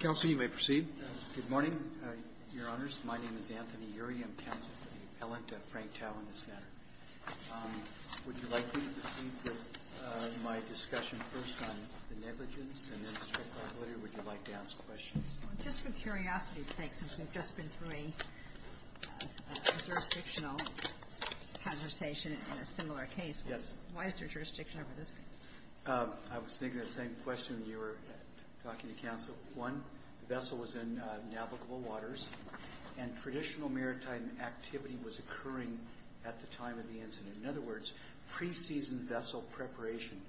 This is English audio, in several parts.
Counsel, you may proceed. Good morning, Your Honors. My name is Anthony Urie. I'm counsel for the appellant, Frank Tau, in this matter. Would you like me to proceed with my discussion first on the negligence and then the strict liability, or would you like to ask questions? Just for curiosity's sake, since we've just been through a jurisdictional conversation in a similar case, why is there jurisdiction over this case? I was thinking of the same question you were talking to counsel. One, the vessel was in navigable waters, and traditional maritime activity was occurring at the time of the incident. In other words, pre-season vessel preparation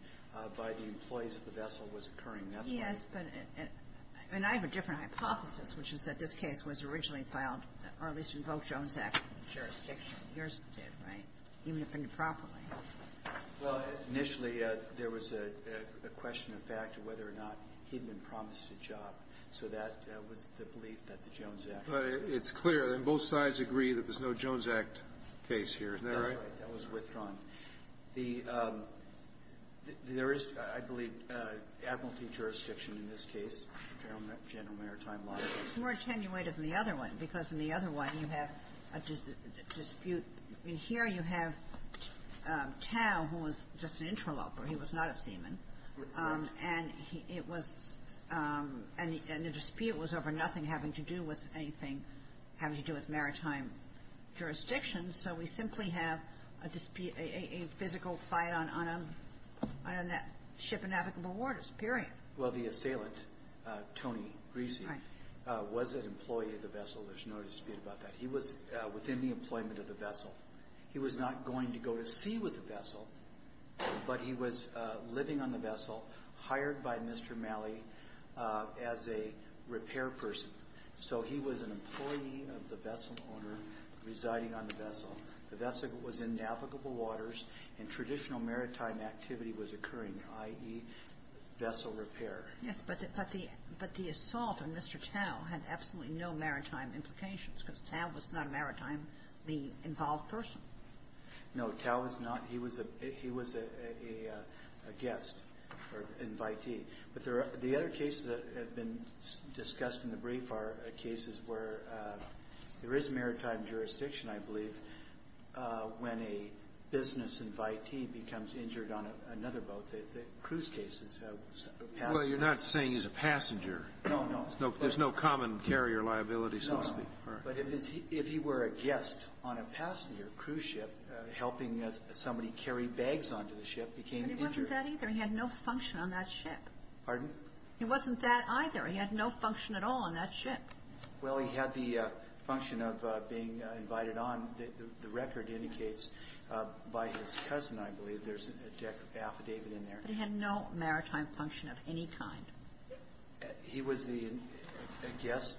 by the employees of the vessel was occurring. Yes, but I have a different hypothesis, which is that this case was originally filed, or at least in Volk-Jones Act jurisdiction. Yours did, right? Even if in a proper way. Well, initially, there was a question of fact of whether or not he'd been promised a job. So that was the belief that the Jones Act was. But it's clear that both sides agree that there's no Jones Act case here. That's right. That was withdrawn. There is, I believe, admiralty jurisdiction in this case, General Maritime Law. It's more attenuated than the other one, because in the other one, you have a dispute. In here, you have Tao, who was just an interloper. He was not a seaman. And it was, and the dispute was over nothing having to do with anything having to do with maritime jurisdiction. So we simply have a physical fight on that ship in navigable waters, period. Well, the assailant, Tony Greasy, was an employee of the vessel. There's no dispute about that. He was within the employment of the vessel. He was not going to go to sea with the vessel, but he was living on the vessel, hired by Mr. Malley as a repair person. So he was an employee of the vessel owner, residing on the vessel. The vessel was in navigable waters, and traditional maritime activity was occurring, i.e., vessel repair. Yes, but the assault on Mr. Tao had absolutely no maritime implications, because Tao was not a maritime-involved person. No. Tao was not. He was a guest or invitee. But the other cases that have been discussed in the brief are cases where there is maritime jurisdiction, I believe, when a business invitee becomes injured on another boat, the cruise cases. Well, you're not saying he's a passenger. No, no. There's no common carrier liability, so to speak. No. But if he were a guest on a passenger cruise ship, helping somebody carry bags onto the ship became injured. But he wasn't that either. He had no function on that ship. Pardon? He wasn't that either. He had no function at all on that ship. Well, he had the function of being invited on, the record indicates, by his cousin, I believe. There's an affidavit in there. But he had no maritime function of any kind. He was the guest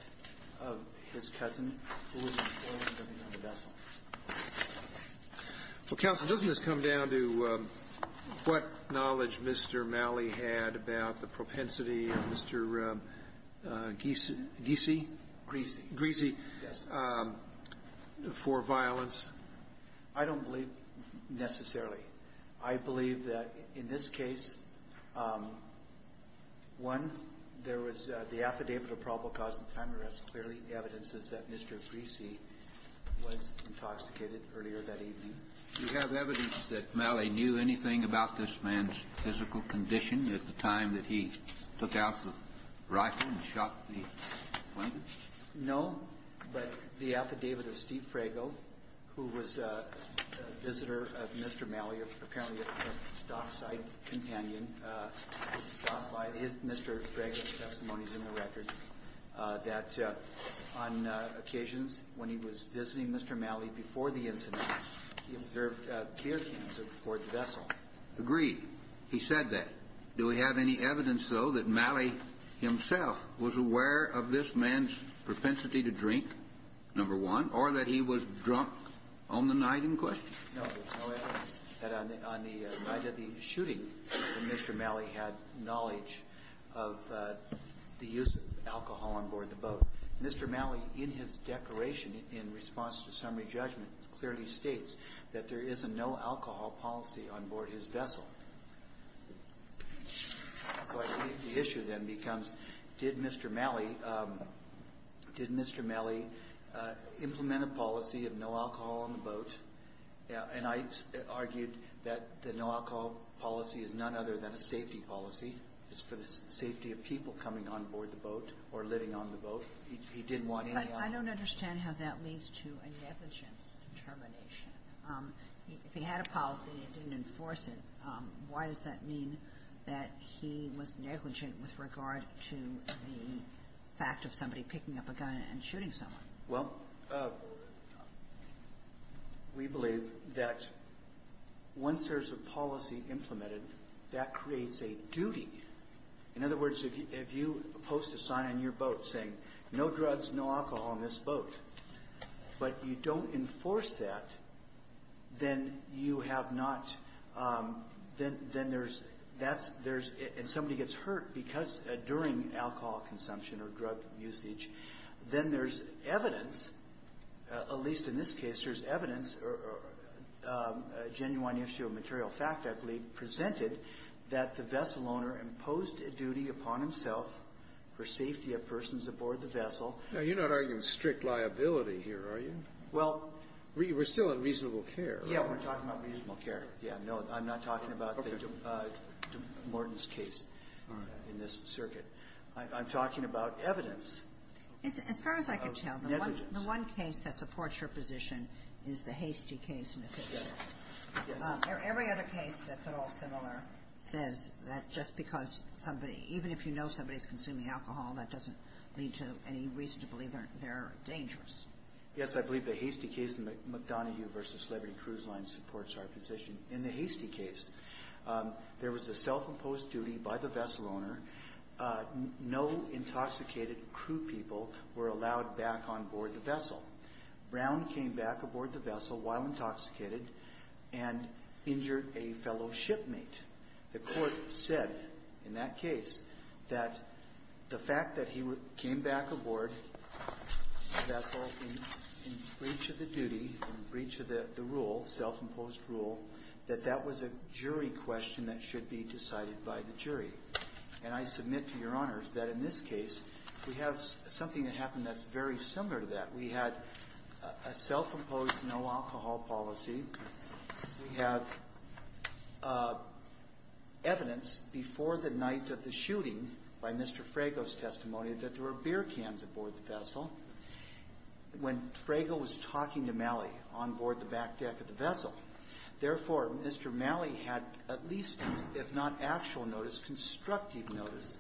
of his cousin who was on the vessel. Well, Counsel, doesn't this come down to what knowledge Mr. Malley had about the propensity of Mr. Giese? Giese. Giese. Yes. For violence? I don't believe necessarily. I believe that in this case, one, there was the affidavit of probable cause of time arrest. Clearly, the evidence is that Mr. Giese was intoxicated earlier that evening. Do you have evidence that Malley knew anything about this man's physical condition at the time that he took out the rifle and shot the plaintiff? No, but the affidavit of Steve Frago, who was a visitor of Mr. Malley, apparently a dockside companion, is found by Mr. Frago's testimonies in the record, that on occasions when he was visiting Mr. Malley before the incident, he observed beer cans aboard the vessel. Agreed. He said that. Do we have any evidence, though, that Malley himself was aware of this man's propensity to drink, number one, or that he was drunk on the night in question? No, there's no evidence that on the night of the shooting that Mr. Malley had knowledge of the use of alcohol on board the boat. Mr. Malley, in his declaration in response to summary judgment, clearly states that there is a no-alcohol policy on board his vessel. So the issue then becomes, did Mr. Malley implement a policy of no alcohol on the boat? And I argued that the no-alcohol policy is none other than a safety policy. It's for the safety of people coming on board the boat or living on the boat. He didn't want any alcohol. I don't understand how that leads to a negligence determination. If he had a policy and didn't enforce it, why does that mean that he was negligent with regard to the fact of somebody picking up a gun and shooting someone? Well, we believe that once there's a policy implemented, that creates a duty. In other words, if you post a sign on your boat saying, no drugs, no alcohol on this boat, but you don't enforce that, then you have not – then there's – and somebody gets hurt because during alcohol consumption or drug usage, then there's evidence, at least in this case, there's evidence or a genuine issue of material fact, I believe, presented that the vessel owner imposed a duty upon himself for safety of persons aboard the vessel. Now, you're not arguing strict liability here, are you? Well – We're still on reasonable care, right? Yeah. We're talking about reasonable care. Yeah. No, I'm not talking about the de Morton's case. All right. In this circuit. I'm talking about evidence of negligence. As far as I can tell, the one case that supports your position is the Hastie case in the Fifth Circuit. Yes. Every other case that's at all similar says that just because somebody – even if you know somebody's consuming alcohol, that doesn't lead to any reason to believe they're dangerous. Yes. I believe the Hastie case in the McDonoghue v. Celebrity Cruise Line supports our position. In the Hastie case, there was a self-imposed duty by the vessel owner. No intoxicated crew people were allowed back on board the vessel. Brown came back aboard the vessel while intoxicated and injured a fellow shipmate. The court said in that case that the fact that he came back aboard the vessel in breach of the duty, in breach of the rule, self-imposed rule, that that was a jury question that should be decided by the jury. And I submit to Your Honors that in this case, we have something that happened that's very similar to that. We had a self-imposed no-alcohol policy. We have evidence before the night of the shooting by Mr. Frago's testimony that there were beer cans aboard the vessel. When Frago was talking to Malley on board the back deck of the vessel, therefore, Mr. Malley had at least, if not actual notice, constructive notice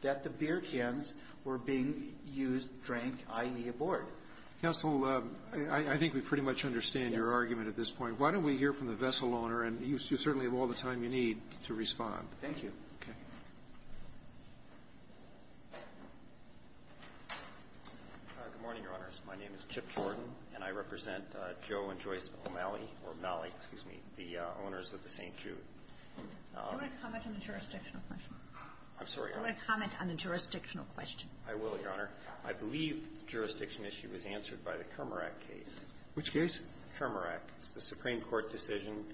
that the beer cans were being used, drank, i.e., aboard. Counsel, I think we pretty much understand your argument at this point. Why don't we hear from the vessel owner, and you certainly have all the time you need to respond. Thank you. Okay. Good morning, Your Honors. My name is Chip Jordan, and I represent Joe and Joyce O'Malley, or Malley, excuse me, the owners of the St. Jude. Do you want to comment on the jurisdictional question? I'm sorry, Your Honor. Do you want to comment on the jurisdictional question? I will, Your Honor. I believe the jurisdiction issue was answered by the Kermarack case. Which case? Kermarack. It's the Supreme Court decision,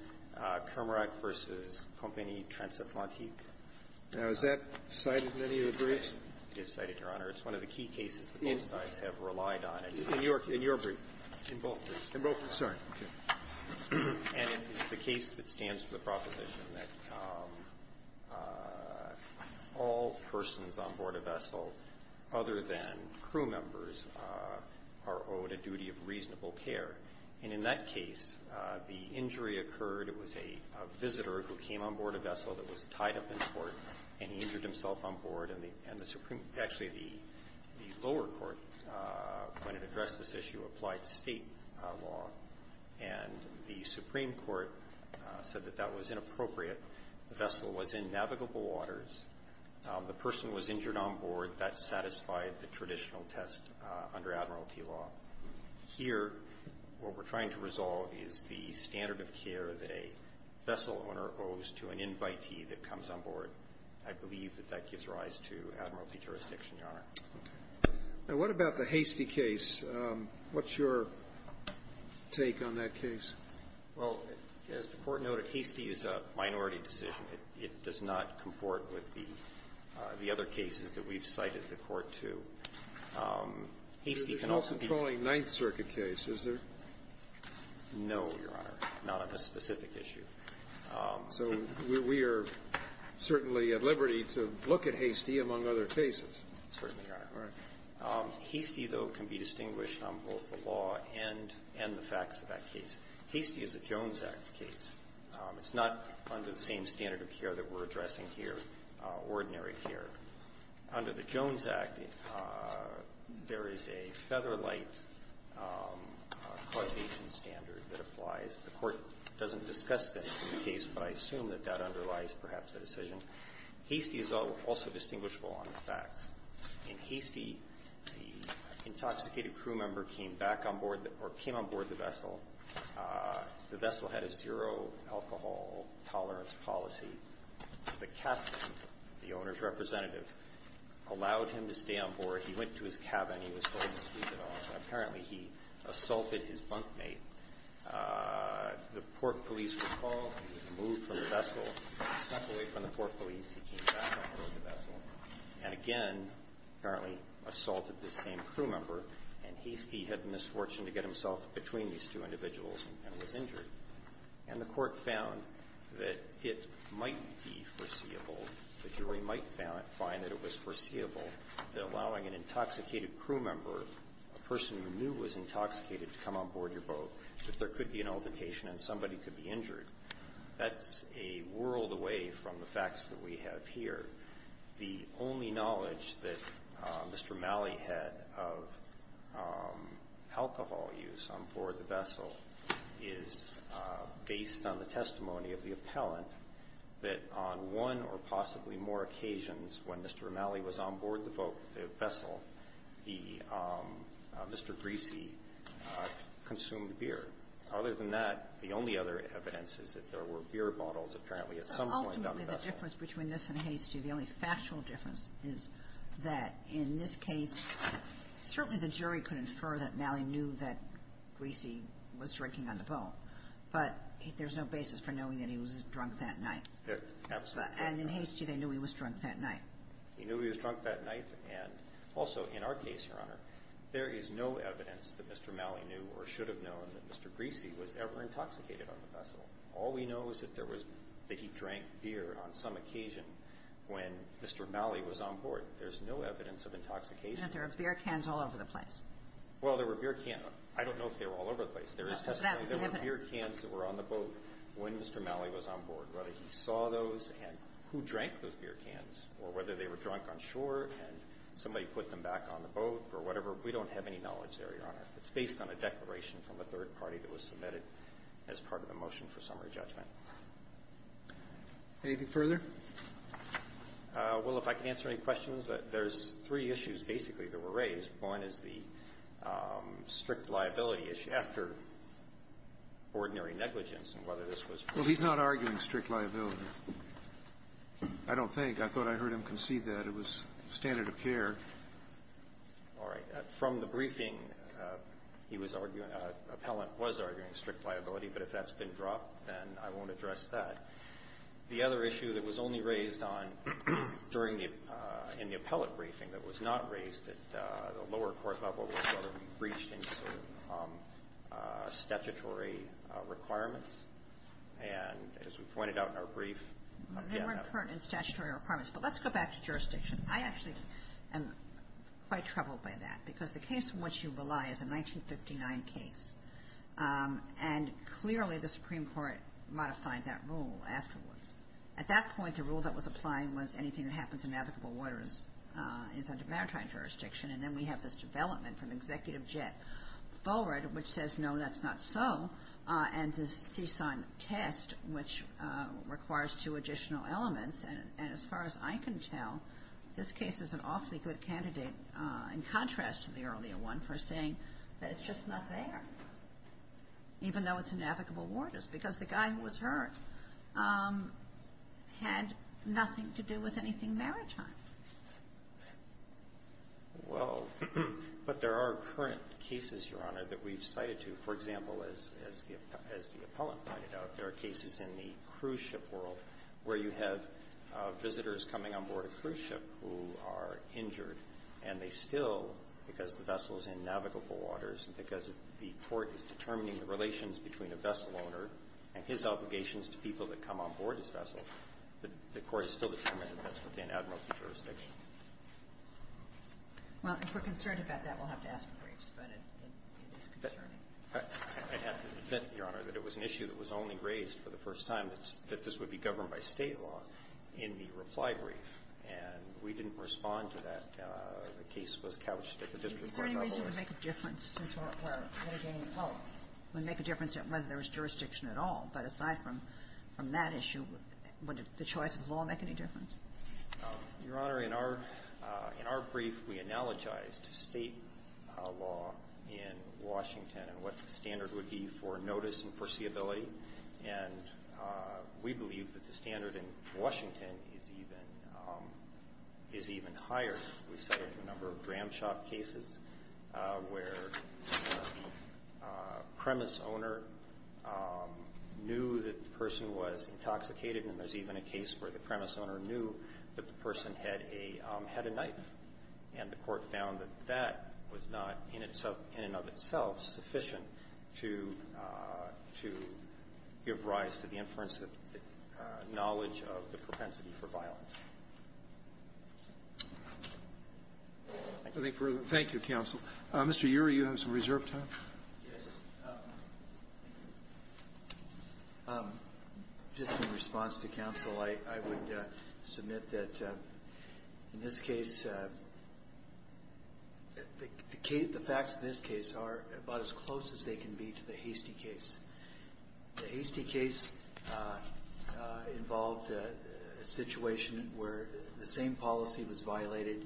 Kermarack v. Compagnie Transatlantique. Now, is that cited in any of the briefs? It is cited, Your Honor. It's one of the key cases that both sides have relied on. In your brief? In both briefs. In both? Sorry. And it's the case that stands for the proposition that all persons on board a vessel other than crew members are owed a duty of reasonable care. And in that case, the injury occurred. It was a visitor who came on board a vessel that was tied up in port, and he injured himself on board. And the Supreme Court actually, the lower court, when it addressed this issue, applied state law. And the Supreme Court said that that was inappropriate. The vessel was in navigable waters. The person was injured on board. That satisfied the traditional test under Admiralty law. Here, what we're trying to resolve is the standard of care that a vessel owner owes to an invitee that comes on board. I believe that that gives rise to Admiralty jurisdiction, Your Honor. Now, what about the Hastie case? What's your take on that case? Well, as the Court noted, Hastie is a minority decision. It does not comport with the other cases that we've cited the Court to. Hastie can also be ---- It's an all-controlling Ninth Circuit case, is there? No, Your Honor. Not on this specific issue. So we are certainly at liberty to look at Hastie among other cases. Certainly, Your Honor. All right. Hastie, though, can be distinguished on both the law and the facts of that case. Hastie is a Jones Act case. It's not under the same standard of care that we're addressing here, ordinary care. Under the Jones Act, there is a featherlight causation standard that applies. The Court doesn't discuss this in the case, but I assume that that underlies perhaps the decision. Hastie is also distinguishable on the facts. In Hastie, the intoxicated crew member came back on board or came on board the vessel. The vessel had a zero-alcohol tolerance policy. The captain, the owner's representative, allowed him to stay on board. He went to his cabin. He was going to sleep it off. And apparently, he assaulted his bunkmate. The port police were called. He was moved from the vessel. He stepped away from the port police. He came back on board the vessel and again, apparently, assaulted this same crew member. And Hastie had the misfortune to get himself between these two individuals and was injured. And the Court found that it might be foreseeable, the jury might find that it was foreseeable that allowing an intoxicated crew member, a person who knew was intoxicated, to come on board your boat, that there could be an altercation and somebody could be injured. That's a world away from the facts that we have here. The only knowledge that Mr. Malley had of alcohol use on board the vessel is based on the testimony of the appellant that on one or possibly more occasions when Mr. Malley was on board the boat, the vessel, the Mr. Greasy consumed beer. Other than that, the only other evidence is that there were beer bottles apparently at some point on the vessel. The only difference between this and Hastie, the only factual difference, is that in this case, certainly the jury could infer that Malley knew that Greasy was drinking on the boat. But there's no basis for knowing that he was drunk that night. Absolutely. And in Hastie, they knew he was drunk that night. He knew he was drunk that night. And also, in our case, Your Honor, there is no evidence that Mr. Malley knew or should have known that Mr. Greasy was ever intoxicated on the vessel. All we know is that there was that he drank beer on some occasion when Mr. Malley was on board. There's no evidence of intoxication. But there were beer cans all over the place. Well, there were beer cans. I don't know if they were all over the place. There is testimony that there were beer cans that were on the boat when Mr. Malley was on board. Whether he saw those and who drank those beer cans or whether they were drunk on shore and somebody put them back on the boat or whatever, we don't have any knowledge there, Your Honor. It's based on a declaration from a third party that was submitted as part of a motion for summary judgment. Anything further? Well, if I can answer any questions. There's three issues basically that were raised. One is the strict liability issue. After ordinary negligence and whether this was. Well, he's not arguing strict liability. I don't think. I thought I heard him concede that. It was standard of care. All right. From the briefing, he was arguing, appellant was arguing strict liability. But if that's been dropped, then I won't address that. The other issue that was only raised on during the, in the appellate briefing that was not raised at the lower court level was whether we breached any sort of statutory requirements. And as we pointed out in our brief. They weren't pertinent statutory requirements. But let's go back to jurisdiction. I actually am quite troubled by that. Because the case in which you rely is a 1959 case. And clearly the Supreme Court modified that rule afterwards. At that point, the rule that was applying was anything that happens in navigable waters is under maritime jurisdiction. And then we have this development from Executive Jet forward, which says, no, that's not so. And the CSUN test, which requires two additional elements. And as far as I can tell, this case is an awfully good candidate, in contrast to the earlier one, for saying that it's just not there. Even though it's in navigable waters. Because the guy who was hurt had nothing to do with anything maritime. Well, but there are current cases, Your Honor, that we've cited to. For example, as the appellant pointed out, there are cases in the cruise ship world where you have visitors coming on board a cruise ship who are injured. And they still, because the vessel is in navigable waters and because the court is determining the relations between a vessel owner and his obligations to people that come on board his vessel, the court has still determined that that's within admiralty jurisdiction. Well, if we're concerned about that, we'll have to ask the briefs. But it is concerning. I have to admit, Your Honor, that it was an issue that was only raised for the first time, that this would be governed by State law, in the reply brief. And we didn't respond to that. The case was couched at the district court level. Is there any reason it would make a difference? Well, it would make a difference whether there was jurisdiction at all. But aside from that issue, would the choice of law make any difference? Your Honor, in our brief, we analogized State law in Washington and what the standard would be for notice and foreseeability. And we believe that the standard in Washington is even higher. We've settled a number of ramshackle cases where the premise owner knew that the person was intoxicated. And there's even a case where the premise owner knew that the person had a knife. And the court found that that was not, in and of itself, sufficient to give rise to the inference of knowledge of the propensity for violence. Thank you. Thank you, counsel. Mr. Ury, you have some reserve time. Yes. Just in response to counsel, I would submit that in this case, the facts of this case are about as close as they can be to the Hastie case. The Hastie case involved a situation where the same policy was violated,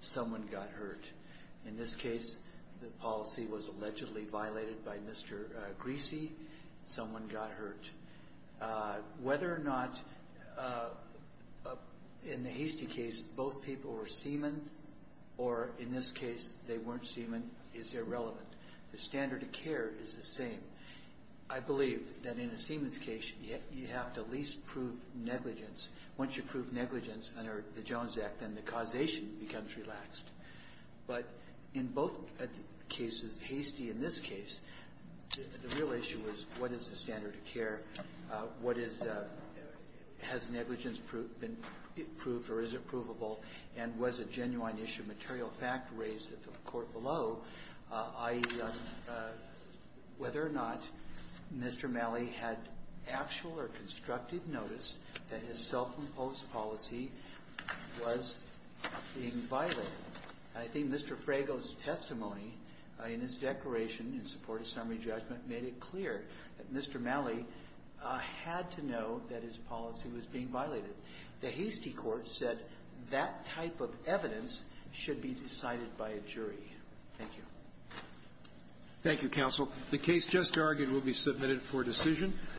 someone got hurt. In this case, the policy was allegedly violated by Mr. Greasy. Someone got hurt. Whether or not, in the Hastie case, both people were semen or, in this case, they weren't semen is irrelevant. The standard of care is the same. I believe that in a semen's case, you have to at least prove negligence. Once you prove negligence under the Jones Act, then the causation becomes relaxed. But in both cases, Hastie in this case, the real issue was what is the standard of care, what is the – has negligence been proved or is it provable, and was a genuine issue of material fact raised at the court below, i.e., whether or not Mr. Malley had actual or constructive notice that his self-imposed policy was being violated. I think Mr. Frago's testimony in his declaration in support of summary judgment made it clear that Mr. Malley had to know that his policy was being violated. The Hastie court said that type of evidence should be decided by a jury. Thank you. Roberts. Thank you, counsel. The case just argued will be submitted for decision.